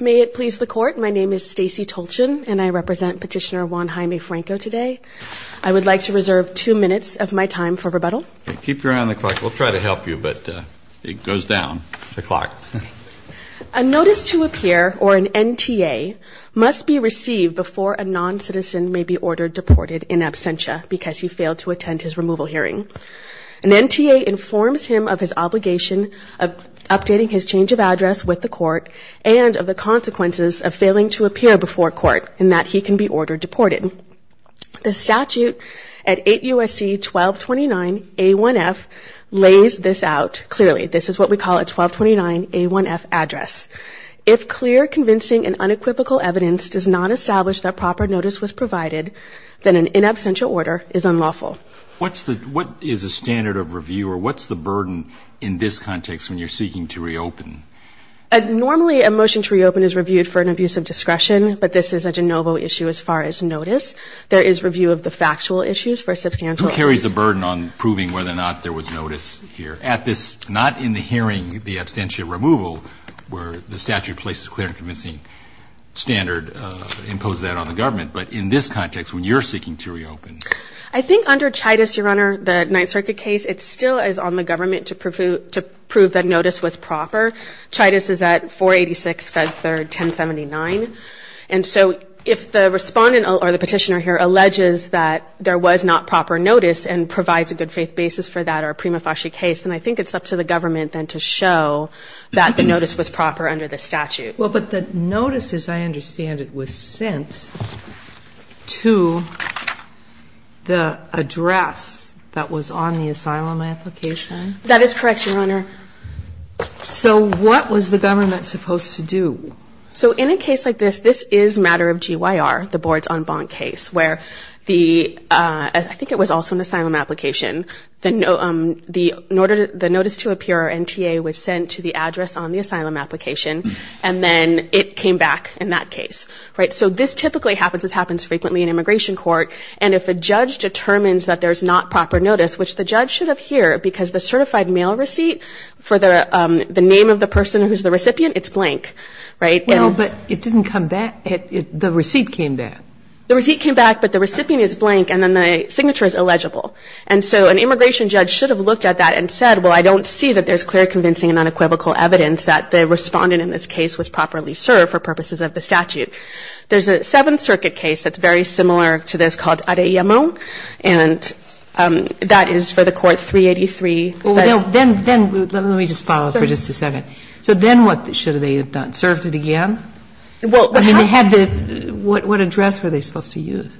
May it please the Court, my name is Stacey Tolchin, and I represent Petitioner Juan Jaime Franco today. I would like to reserve two minutes of my time for rebuttal. Keep your eye on the clock. We'll try to help you, but it goes down the clock. A Notice to Appear, or an NTA, must be received before a non-citizen may be ordered deported in absentia because he failed to attend his removal hearing. An NTA informs him of his obligation of updating his change of address with the Court and of the consequences of failing to appear before Court in that he can be ordered deported. The statute at 8 U.S.C. 1229 A1F lays this out clearly. This is what we call a 1229 A1F address. If clear, convincing, and unequivocal evidence does not establish that proper notice was provided, then an in absentia order is unlawful. What's the, what is a standard of review, or what's the burden in this context when you're seeking to reopen? Normally, a motion to reopen is reviewed for an abuse of discretion, but this is a de novo issue as far as notice. There is review of the factual issues for substantial. Who carries the burden on proving whether or not there was notice here? At this, not in the hearing, the absentia removal, where the statute places clear and convincing standard, imposes that on the government. But in this context, when you're seeking to reopen. I think under Chaitis, Your Honor, the Ninth Circuit case, it still is on the government to prove that notice was proper. Chaitis is at 486, Fed Third, 1079. And so if the Respondent or the Petitioner here alleges that there was not proper notice and provides a good faith basis for that or a prima facie case, then I think it's up to the government then to show that the notice was proper under the statute. Well, but the notice, as I understand it, was sent to the address that was on the asylum application. That is correct, Your Honor. So what was the government supposed to do? So in a case like this, this is matter of GYR, the Boards on Bont case, where the, I think it was also an asylum application. The notice to appear, NTA, was sent to the address on the asylum application and then it came back in that case, right? So this typically happens, this happens frequently in immigration court. And if a judge determines that there's not proper notice, which the judge should have here, because the certified mail receipt for the name of the person who's the recipient, it's blank, right? Well, but it didn't come back. The receipt came back. The receipt came back, but the recipient is blank and then the signature is illegible. And so an immigration judge should have looked at that and said, well, I don't see that there's clear convincing and unequivocal evidence that the respondent in this case was properly served for purposes of the statute. There's a Seventh Circuit case that's very similar to this called Arellamon and that is for the Court 383. Well, then, let me just follow up for just a second. So then what should they have done? Served it again? I mean, they had the, what address were they supposed to use?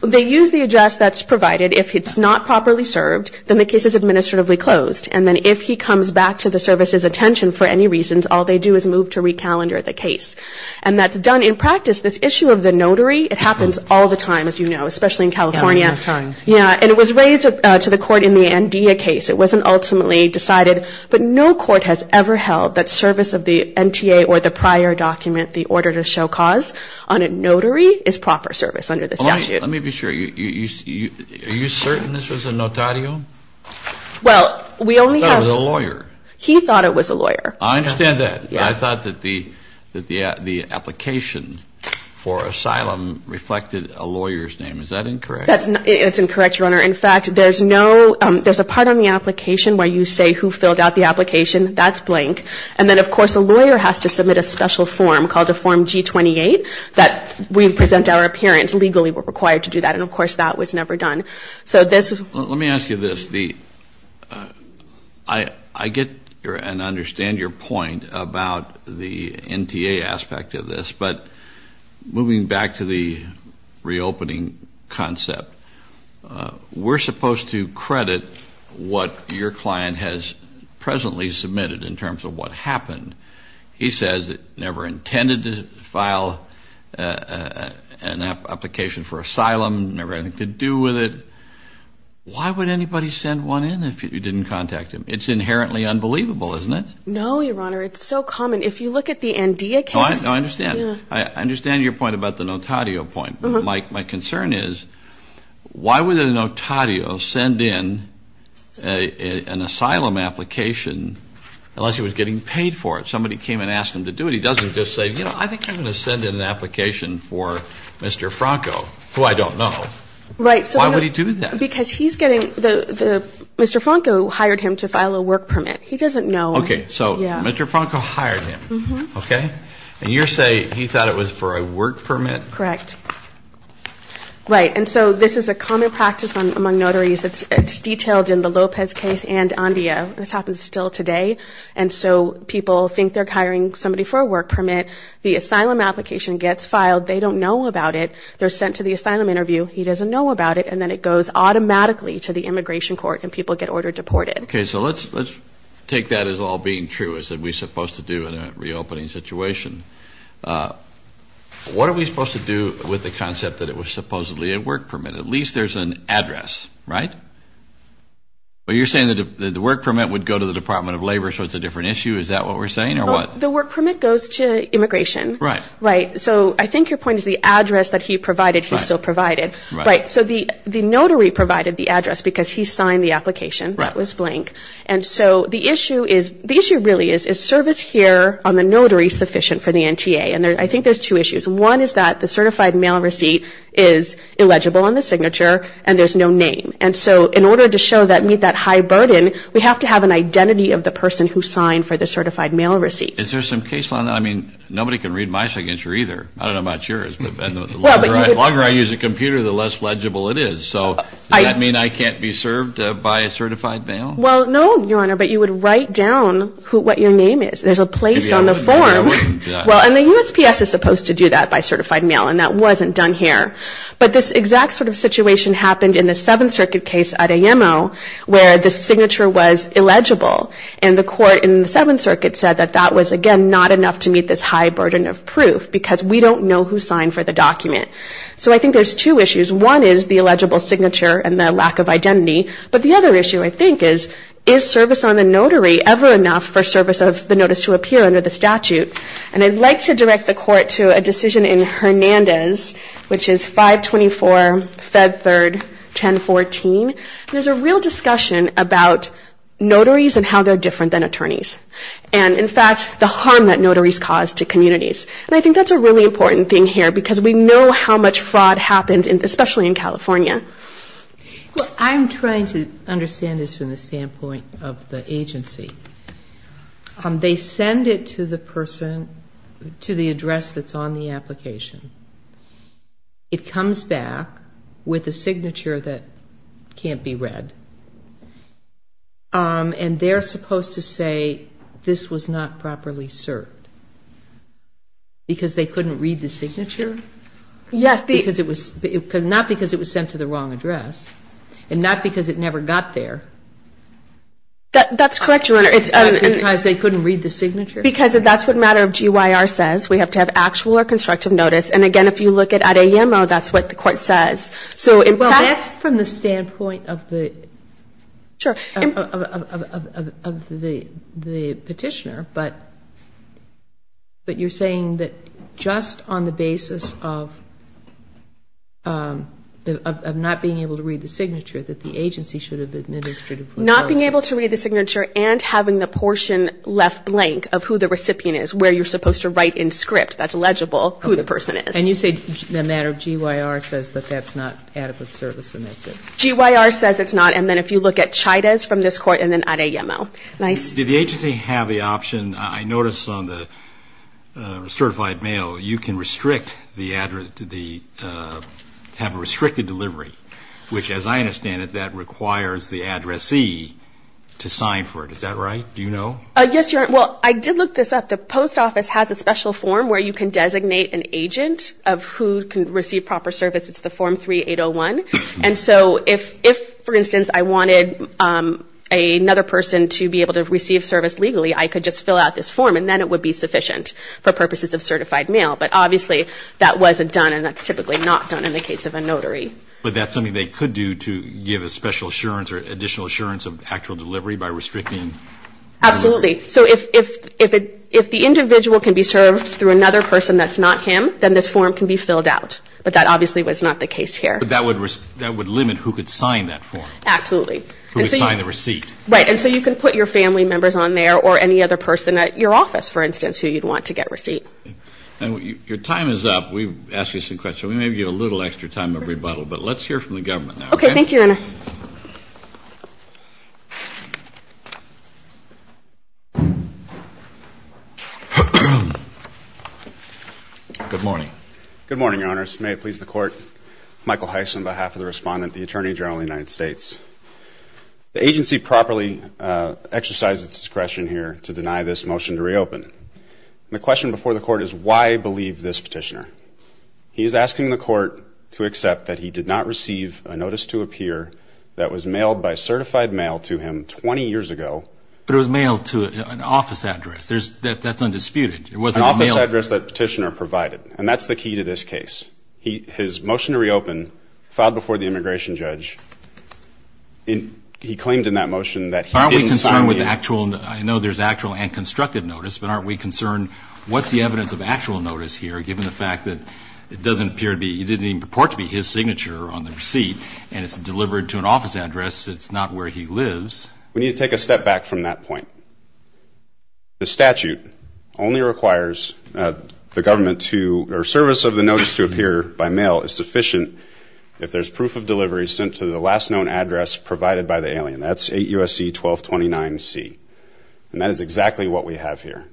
They use the address that's provided if it's not properly served, then the case is revoked. If he comes back to the service's attention for any reasons, all they do is move to recalendar the case. And that's done in practice. This issue of the notary, it happens all the time, as you know, especially in California. Yeah, all the time. Yeah. And it was raised to the Court in the Andea case. It wasn't ultimately decided. But no court has ever held that service of the NTA or the prior document, the order to show cause on a notary is proper service under the statute. Let me be sure. Are you certain this was a notario? Well, we only have. I thought it was a lawyer. He thought it was a lawyer. I understand that. Yeah. But I thought that the application for asylum reflected a lawyer's name. Is that incorrect? It's incorrect, Your Honor. In fact, there's no, there's a part on the application where you say who filled out the application. That's blank. And then, of course, a lawyer has to submit a special form called a Form G-28 that we present our appearance. Legally we're required to do that. And, of course, that was never done. Let me ask you this. I get and understand your point about the NTA aspect of this. But moving back to the reopening concept, we're supposed to credit what your client has presently submitted in terms of what happened. He says it never intended to file an application for asylum, never had anything to do with it. Why would anybody send one in if you didn't contact him? It's inherently unbelievable, isn't it? No, Your Honor. It's so common. If you look at the NDA case. No, I understand. I understand your point about the Notario point. But my concern is why would a Notario send in an asylum application unless he was getting paid for it? Somebody came and asked him to do it. He doesn't just say, you know, I think I'm going to send in an application for Mr. Franco, who I don't know. Right. Why would he do that? Because he's getting the Mr. Franco hired him to file a work permit. He doesn't know. Okay. So Mr. Franco hired him. Okay. And you're saying he thought it was for a work permit? Correct. Right. And so this is a common practice among notaries. It's detailed in the Lopez case and NDA. This happens still today. And so people think they're hiring somebody for a work permit. The asylum application gets filed. They don't know about it. They're sent to the asylum interview. He doesn't know about it. And then it goes automatically to the immigration court and people get ordered deported. Okay. So let's take that as all being true, as we're supposed to do in a reopening situation. What are we supposed to do with the concept that it was supposedly a work permit? At least there's an address, right? But you're saying that the work permit would go to the Department of Labor, so it's a different issue. Is that what we're saying or what? The work permit goes to immigration. Right. Right. So I think your point is the address that he provided, he still provided. Right. Right. So the notary provided the address because he signed the application. Right. That was blank. And so the issue is, the issue really is, is service here on the notary sufficient for the NTA? And I think there's two issues. One is that the certified mail receipt is illegible on the signature and there's no name. And so in order to show that, meet that high burden, we have to have an identity of the person who signed for the certified mail receipt. Is there some case law? I mean, nobody can read my signature either. I don't know about yours. The longer I use a computer, the less legible it is. So does that mean I can't be served by a certified mail? Well, no, Your Honor, but you would write down what your name is. There's a place on the form. Well, and the USPS is supposed to do that by certified mail, and that wasn't done here. But this exact sort of situation happened in the Seventh Circuit case at AMO where the signature was illegible. And the court in the Seventh Circuit said that that was, again, not enough to meet this high burden of proof because we don't know who signed for the document. So I think there's two issues. One is the illegible signature and the lack of identity. But the other issue, I think, is, is service on the notary ever enough for service of the notice to appear under the statute? And I'd like to direct the court to a decision in Hernandez, which is 524 Fed 3rd 1014. There's a real discussion about notaries and how they're different than attorneys and, in fact, the harm that notaries cause to communities. And I think that's a really important thing here because we know how much fraud happens, especially in California. Well, I'm trying to understand this from the standpoint of the agency. They send it to the person, to the address that's on the application. It comes back with a signature that can't be read. And they're supposed to say this was not properly served because they couldn't read the signature? Yes. Not because it was sent to the wrong address and not because it never got there. That's correct, Your Honor. Because they couldn't read the signature? Because that's what a matter of GYR says. We have to have actual or constructive notice. And, again, if you look at AMO, that's what the court says. Well, that's from the standpoint of the petitioner. But you're saying that just on the basis of not being able to read the signature, that the agency should have been administrative. Not being able to read the signature and having the portion left blank of who the recipient is, where you're supposed to write in script, that's legible, who the person is. And you say the matter of GYR says that that's not adequate service and that's it? GYR says it's not. And then if you look at Chidas from this court and then Adeyemo. Nice. Did the agency have the option, I noticed on the certified mail, you can restrict the address, have a restricted delivery, which, as I understand it, that requires the addressee to sign for it. Is that right? Do you know? Yes, Your Honor. Well, I did look this up. The post office has a special form where you can designate an agent of who can receive proper service. It's the form 3801. And so if, for instance, I wanted another person to be able to receive service legally, I could just fill out this form and then it would be sufficient for purposes of certified mail. But obviously that wasn't done and that's typically not done in the case of a notary. But that's something they could do to give a special assurance or additional assurance of actual delivery by restricting? Absolutely. So if the individual can be served through another person that's not him, then this form can be filled out. But that obviously was not the case here. But that would limit who could sign that form. Absolutely. Who could sign the receipt. Right. And so you can put your family members on there or any other person at your office, for instance, who you'd want to get receipt. And your time is up. We've asked you some questions. We may give you a little extra time to rebuttal. But let's hear from the government now. Okay. Thank you, Your Honor. Good morning. Good morning, Your Honors. May it please the Court. Michael Heiss on behalf of the Respondent, the Attorney General of the United States. The agency properly exercised its discretion here to deny this motion to reopen. And the question before the Court is why believe this petitioner? He is asking the Court to accept that he did not receive a notice to appear in the form of a receipt. But it was mailed to an office address. That's undisputed. An office address that the petitioner provided. And that's the key to this case. His motion to reopen filed before the immigration judge. He claimed in that motion that he didn't sign the. Aren't we concerned with the actual? I know there's actual and constructive notice. But aren't we concerned what's the evidence of actual notice here, given the fact that it doesn't appear to be, it didn't even purport to be his signature on the receipt and it's delivered to an office address? It's not where he lives. We need to take a step back from that point. The statute only requires the government to, or service of the notice to appear by mail is sufficient if there's proof of delivery sent to the last known address provided by the alien. That's 8 U.S.C. 1229 C. And that is exactly what we have here.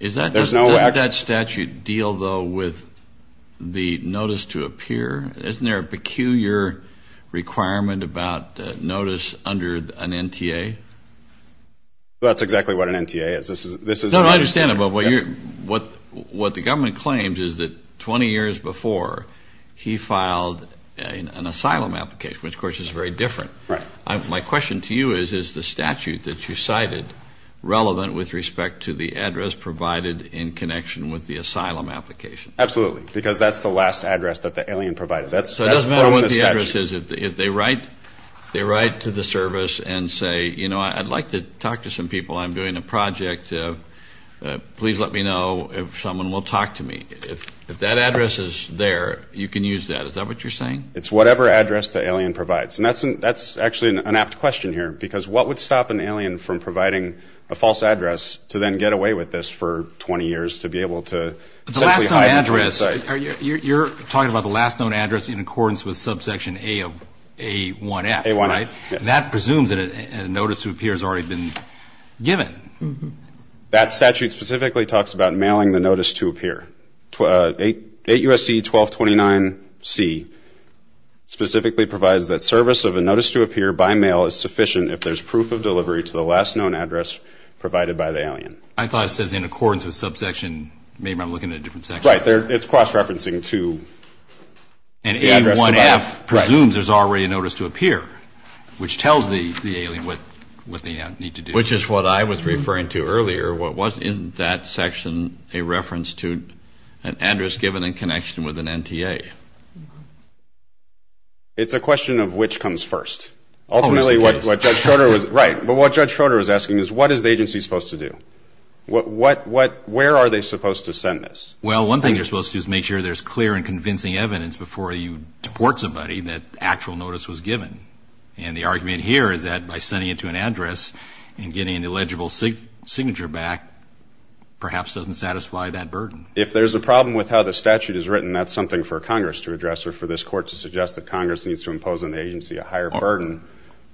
Does that statute deal, though, with the notice to appear? Isn't there a peculiar requirement about notice under an NTA? That's exactly what an NTA is. This is. No, I understand. But what you're, what, what the government claims is that 20 years before he filed an asylum application, which of course is very different. Right. My question to you is, is the statute that you cited relevant with respect to the address provided in connection with the asylum application? Absolutely. Because that's the last address that the alien provided. So it doesn't matter what the address is. If they write, they write to the service and say, you know, I'd like to talk to some people. I'm doing a project. Please let me know if someone will talk to me. If that address is there, you can use that. Is that what you're saying? It's whatever address the alien provides. And that's, that's actually an apt question here, because what would stop an alien from providing a false address to then get away with this for 20 years to be able to. You're talking about the last known address in accordance with subsection A of A1F, right? That presumes that a notice to appear has already been given. That statute specifically talks about mailing the notice to appear. 8 U.S.C. 1229 C specifically provides that service of a notice to appear by mail is sufficient if there's proof of delivery to the last known address provided by the alien. I thought it says in accordance with subsection, maybe I'm looking at a different section. Right. It's cross-referencing to the address provided. And A1F presumes there's already a notice to appear, which tells the alien what they need to do. Which is what I was referring to earlier. Isn't that section a reference to an address given in connection with an NTA? It's a question of which comes first. Ultimately what Judge Schroeder was, right, but what Judge Schroeder was asking is what is the agency supposed to do? Where are they supposed to send this? Well, one thing they're supposed to do is make sure there's clear and convincing evidence before you deport somebody that actual notice was given. And the argument here is that by sending it to an address and getting an illegible signature back perhaps doesn't satisfy that burden. If there's a problem with how the statute is written, that's something for Congress to address or for this Court to suggest that Congress needs to impose on the agency a higher burden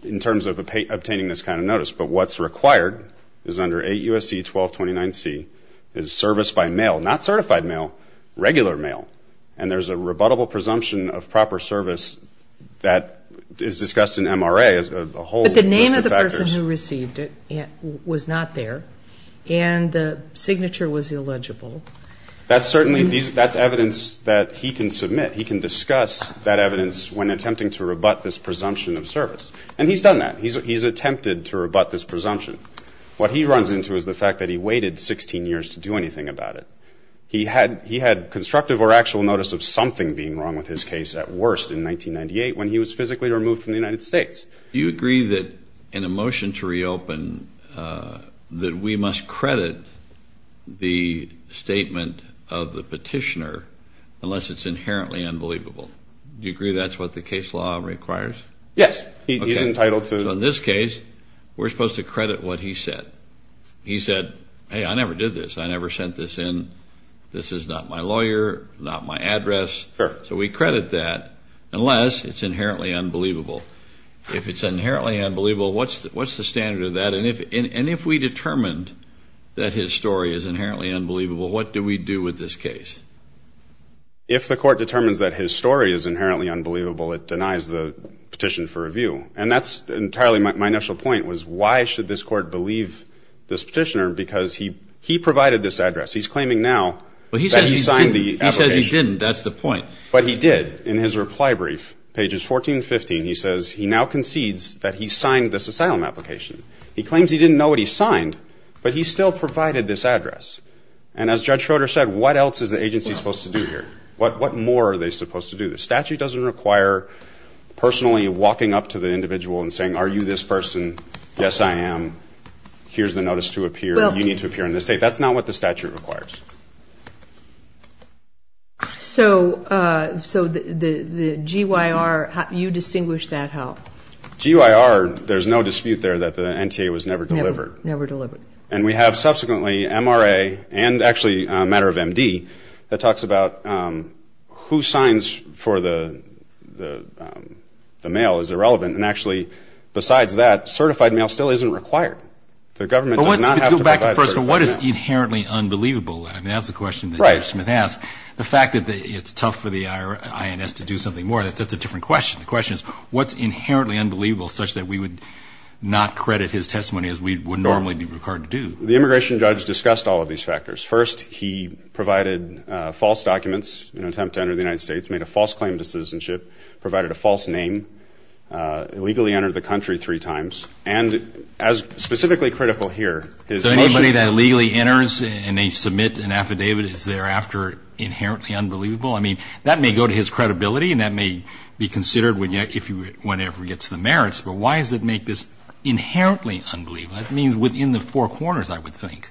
in terms of obtaining this kind of notice. But what's required is under 8 U.S.C. 1229C is service by mail, not certified mail, regular mail. And there's a rebuttable presumption of proper service that is discussed in MRA. But the name of the person who received it was not there, and the signature was illegible. That's evidence that he can submit. He can discuss that evidence when attempting to rebut this presumption of service. And he's done that. He's attempted to rebut this presumption. What he runs into is the fact that he waited 16 years to do anything about it. He had constructive or actual notice of something being wrong with his case at worst in 1998 when he was physically removed from the United States. Do you agree that in a motion to reopen that we must credit the statement of the petitioner unless it's inherently unbelievable? Do you agree that's what the case law requires? Yes. He's entitled to. So in this case, we're supposed to credit what he said. He said, hey, I never did this. I never sent this in. This is not my lawyer, not my address. So we credit that unless it's inherently unbelievable. If it's inherently unbelievable, what's the standard of that? And if we determined that his story is inherently unbelievable, what do we do with this case? If the court determines that his story is inherently unbelievable, it denies the petition for review. And that's entirely my initial point was why should this court believe this petitioner because he provided this address. He's claiming now that he signed the application. He says he didn't. That's the point. But he did. In his reply brief, pages 14 and 15, he says he now concedes that he signed this asylum application. He claims he didn't know what he signed, but he still provided this address. And as Judge Schroeder said, what else is the agency supposed to do here? What more are they supposed to do? The statute doesn't require personally walking up to the individual and saying, are you this person? Yes, I am. Here's the notice to appear. You need to appear in this state. That's not what the statute requires. So the GYR, you distinguish that how? GYR, there's no dispute there that the NTA was never delivered. Never delivered. And we have subsequently MRA and actually a matter of MD that talks about who is eligible for the mail is irrelevant. And actually, besides that, certified mail still isn't required. The government does not have to provide certified mail. But let's go back to first, what is inherently unbelievable? I mean, that's the question that Judge Smith asked. The fact that it's tough for the INS to do something more, that's a different question. The question is, what's inherently unbelievable such that we would not credit his testimony as we would normally be required to do? The immigration judge discussed all of these factors. First, he provided false documents in an attempt to enter the United States, made a false claim to citizenship, provided a false name, illegally entered the country three times. And as specifically critical here, his most ---- So anybody that illegally enters and they submit an affidavit is thereafter inherently unbelievable? I mean, that may go to his credibility and that may be considered whenever it gets to the merits. But why does it make this inherently unbelievable? That means within the four corners, I would think.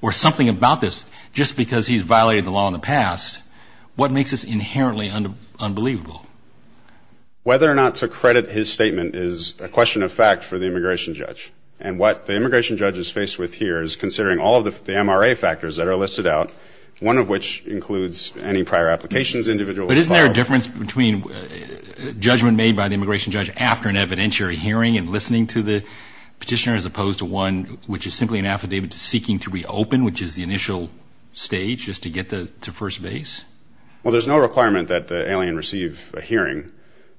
Or something about this, just because he's violated the law in the past, what makes this inherently unbelievable? Whether or not to credit his statement is a question of fact for the immigration judge. And what the immigration judge is faced with here is considering all of the MRA factors that are listed out, one of which includes any prior applications individually filed. But isn't there a difference between judgment made by the immigration judge after an evidentiary hearing and listening to the petitioner as opposed to one which is simply an affidavit seeking to reopen, which is the initial stage just to get to first base? Well, there's no requirement that the alien receive a hearing.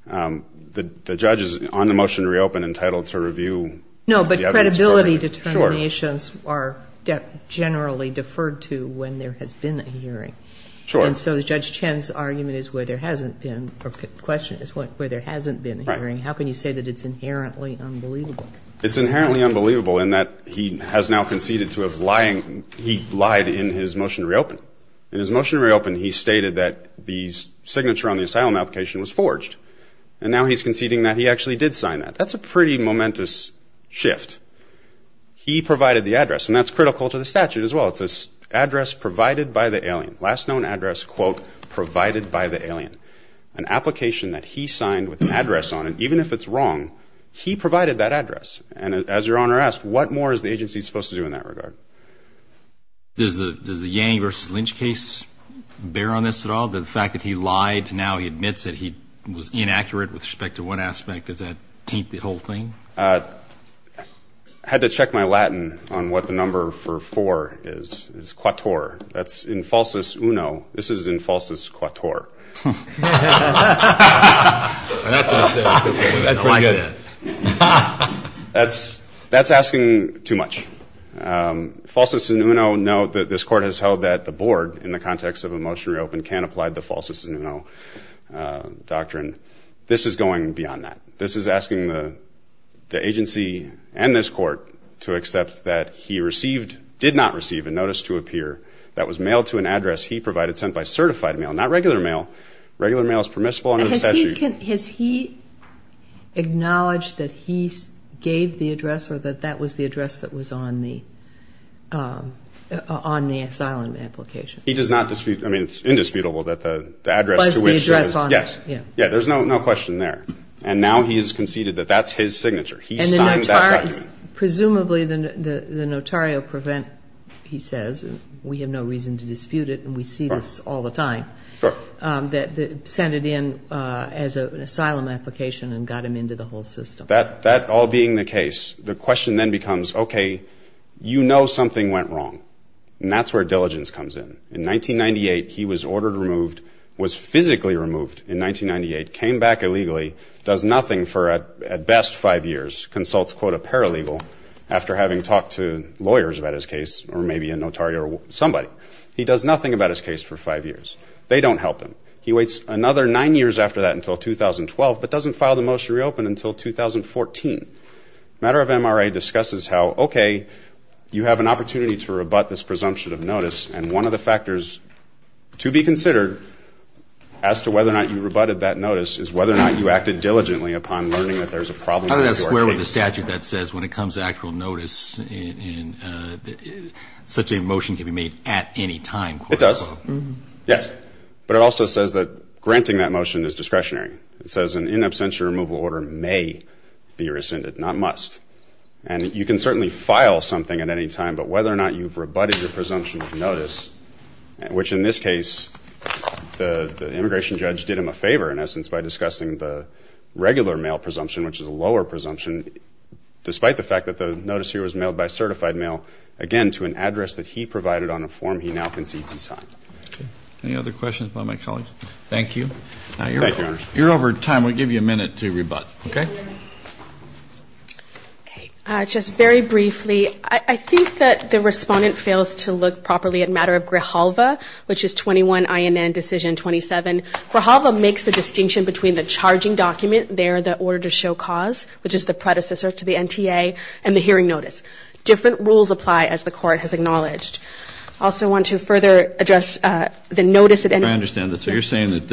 The judge is on the motion to reopen entitled to review the evidence. No, but credibility determinations are generally deferred to when there has been a hearing. Sure. And so Judge Chen's argument is where there hasn't been or question is where there hasn't been a hearing. Right. How can you say that it's inherently unbelievable? It's inherently unbelievable in that he has now conceded to have lying. He lied in his motion to reopen. In his motion to reopen, he stated that the signature on the asylum application was forged. And now he's conceding that he actually did sign that. That's a pretty momentous shift. He provided the address, and that's critical to the statute as well. It's this address provided by the alien. Last known address, quote, provided by the alien. An application that he signed with an address on it, even if it's wrong, he provided that address. And as Your Honor asked, what more is the agency supposed to do in that regard? Does the Yang versus Lynch case bear on this at all, the fact that he lied and now he admits that he was inaccurate with respect to one aspect? Does that taint the whole thing? I had to check my Latin on what the number for four is, is quator. That's in falsus uno. This is in falsus quator. That's asking too much. Falsus uno, no, this court has held that the board, in the context of a motion reopened, can't apply the falsus uno doctrine. This is going beyond that. This is asking the agency and this court to accept that he received, did not receive, a notice to appear that was mailed to an address he provided sent by certified mail, not regular mail, regular mail is permissible under the statute. Has he acknowledged that he gave the address or that that was the address that was on the asylum application? He does not dispute, I mean, it's indisputable that the address to which he was. Was the address on there? Yes. Yeah, there's no question there. And now he has conceded that that's his signature. He signed that document. Presumably the notario prevent, he says, we have no reason to dispute it, and we see this all the time. Sure. That sent it in as an asylum application and got him into the whole system. That all being the case, the question then becomes, okay, you know something went wrong. And that's where diligence comes in. In 1998, he was ordered removed, was physically removed in 1998, came back illegally, does nothing for at best five years, consults, quote, a paralegal after having talked to lawyers about his case or maybe a notario or somebody. He does nothing about his case for five years. They don't help him. He waits another nine years after that until 2012, but doesn't file the motion to reopen until 2014. A matter of MRA discusses how, okay, you have an opportunity to rebut this presumption of notice, and one of the factors to be considered as to whether or not you rebutted that notice is whether or not you acted diligently upon learning that there's a problem with your case. How does that square with the statute that says when it comes to actual notice, such a motion can be made at any time? It does. Yes. But it also says that granting that motion is discretionary. It says an in absentia removal order may be rescinded, not must. And you can certainly file something at any time, but whether or not you've rebutted your presumption of notice, which in this case the immigration judge did him a favor, in essence, by discussing the regular mail presumption, which is a lower presumption, despite the fact that the notice here was mailed by certified mail, again, to an address that he provided on a form he now concedes he signed. Okay. Any other questions by my colleagues? Thank you. Thank you, Your Honor. You're over time. We'll give you a minute to rebut. Okay? Okay. Just very briefly. I think that the Respondent fails to look properly at matter of Grijalva, which is 21 INN Decision 27. Grijalva makes the distinction between the charging document there, the order to show cause, which is the predecessor to the NTA, and the hearing notice. Different rules apply, as the Court has acknowledged. I also want to further address the notice. I understand that. So you're saying that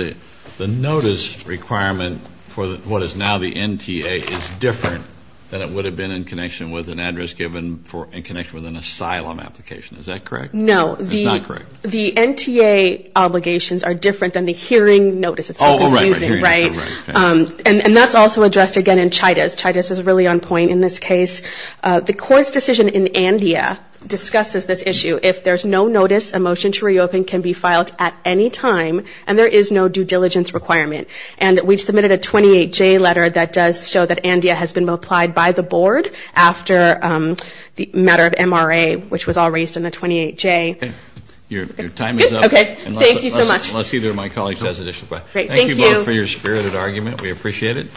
the notice requirement for what is now the NTA is different than it would have been in connection with an address given in connection with an asylum application. Is that correct? No. It's not correct. The NTA obligations are different than the hearing notice. Oh, right, right. And that's also addressed, again, in Chidas. Chidas is really on point in this case. The Court's decision in Andea discusses this issue. If there's no notice, a motion to reopen can be filed at any time, and there is no due diligence requirement. And we've submitted a 28J letter that does show that Andea has been applied by the Board after the matter of MRA, which was all raised in the 28J. Okay. Your time is up. Good? Okay. Thank you so much. Unless either of my colleagues has additional questions. Great. Thank you. Thank you both for your spirited argument. We appreciate it.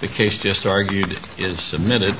The case just argued is submitted.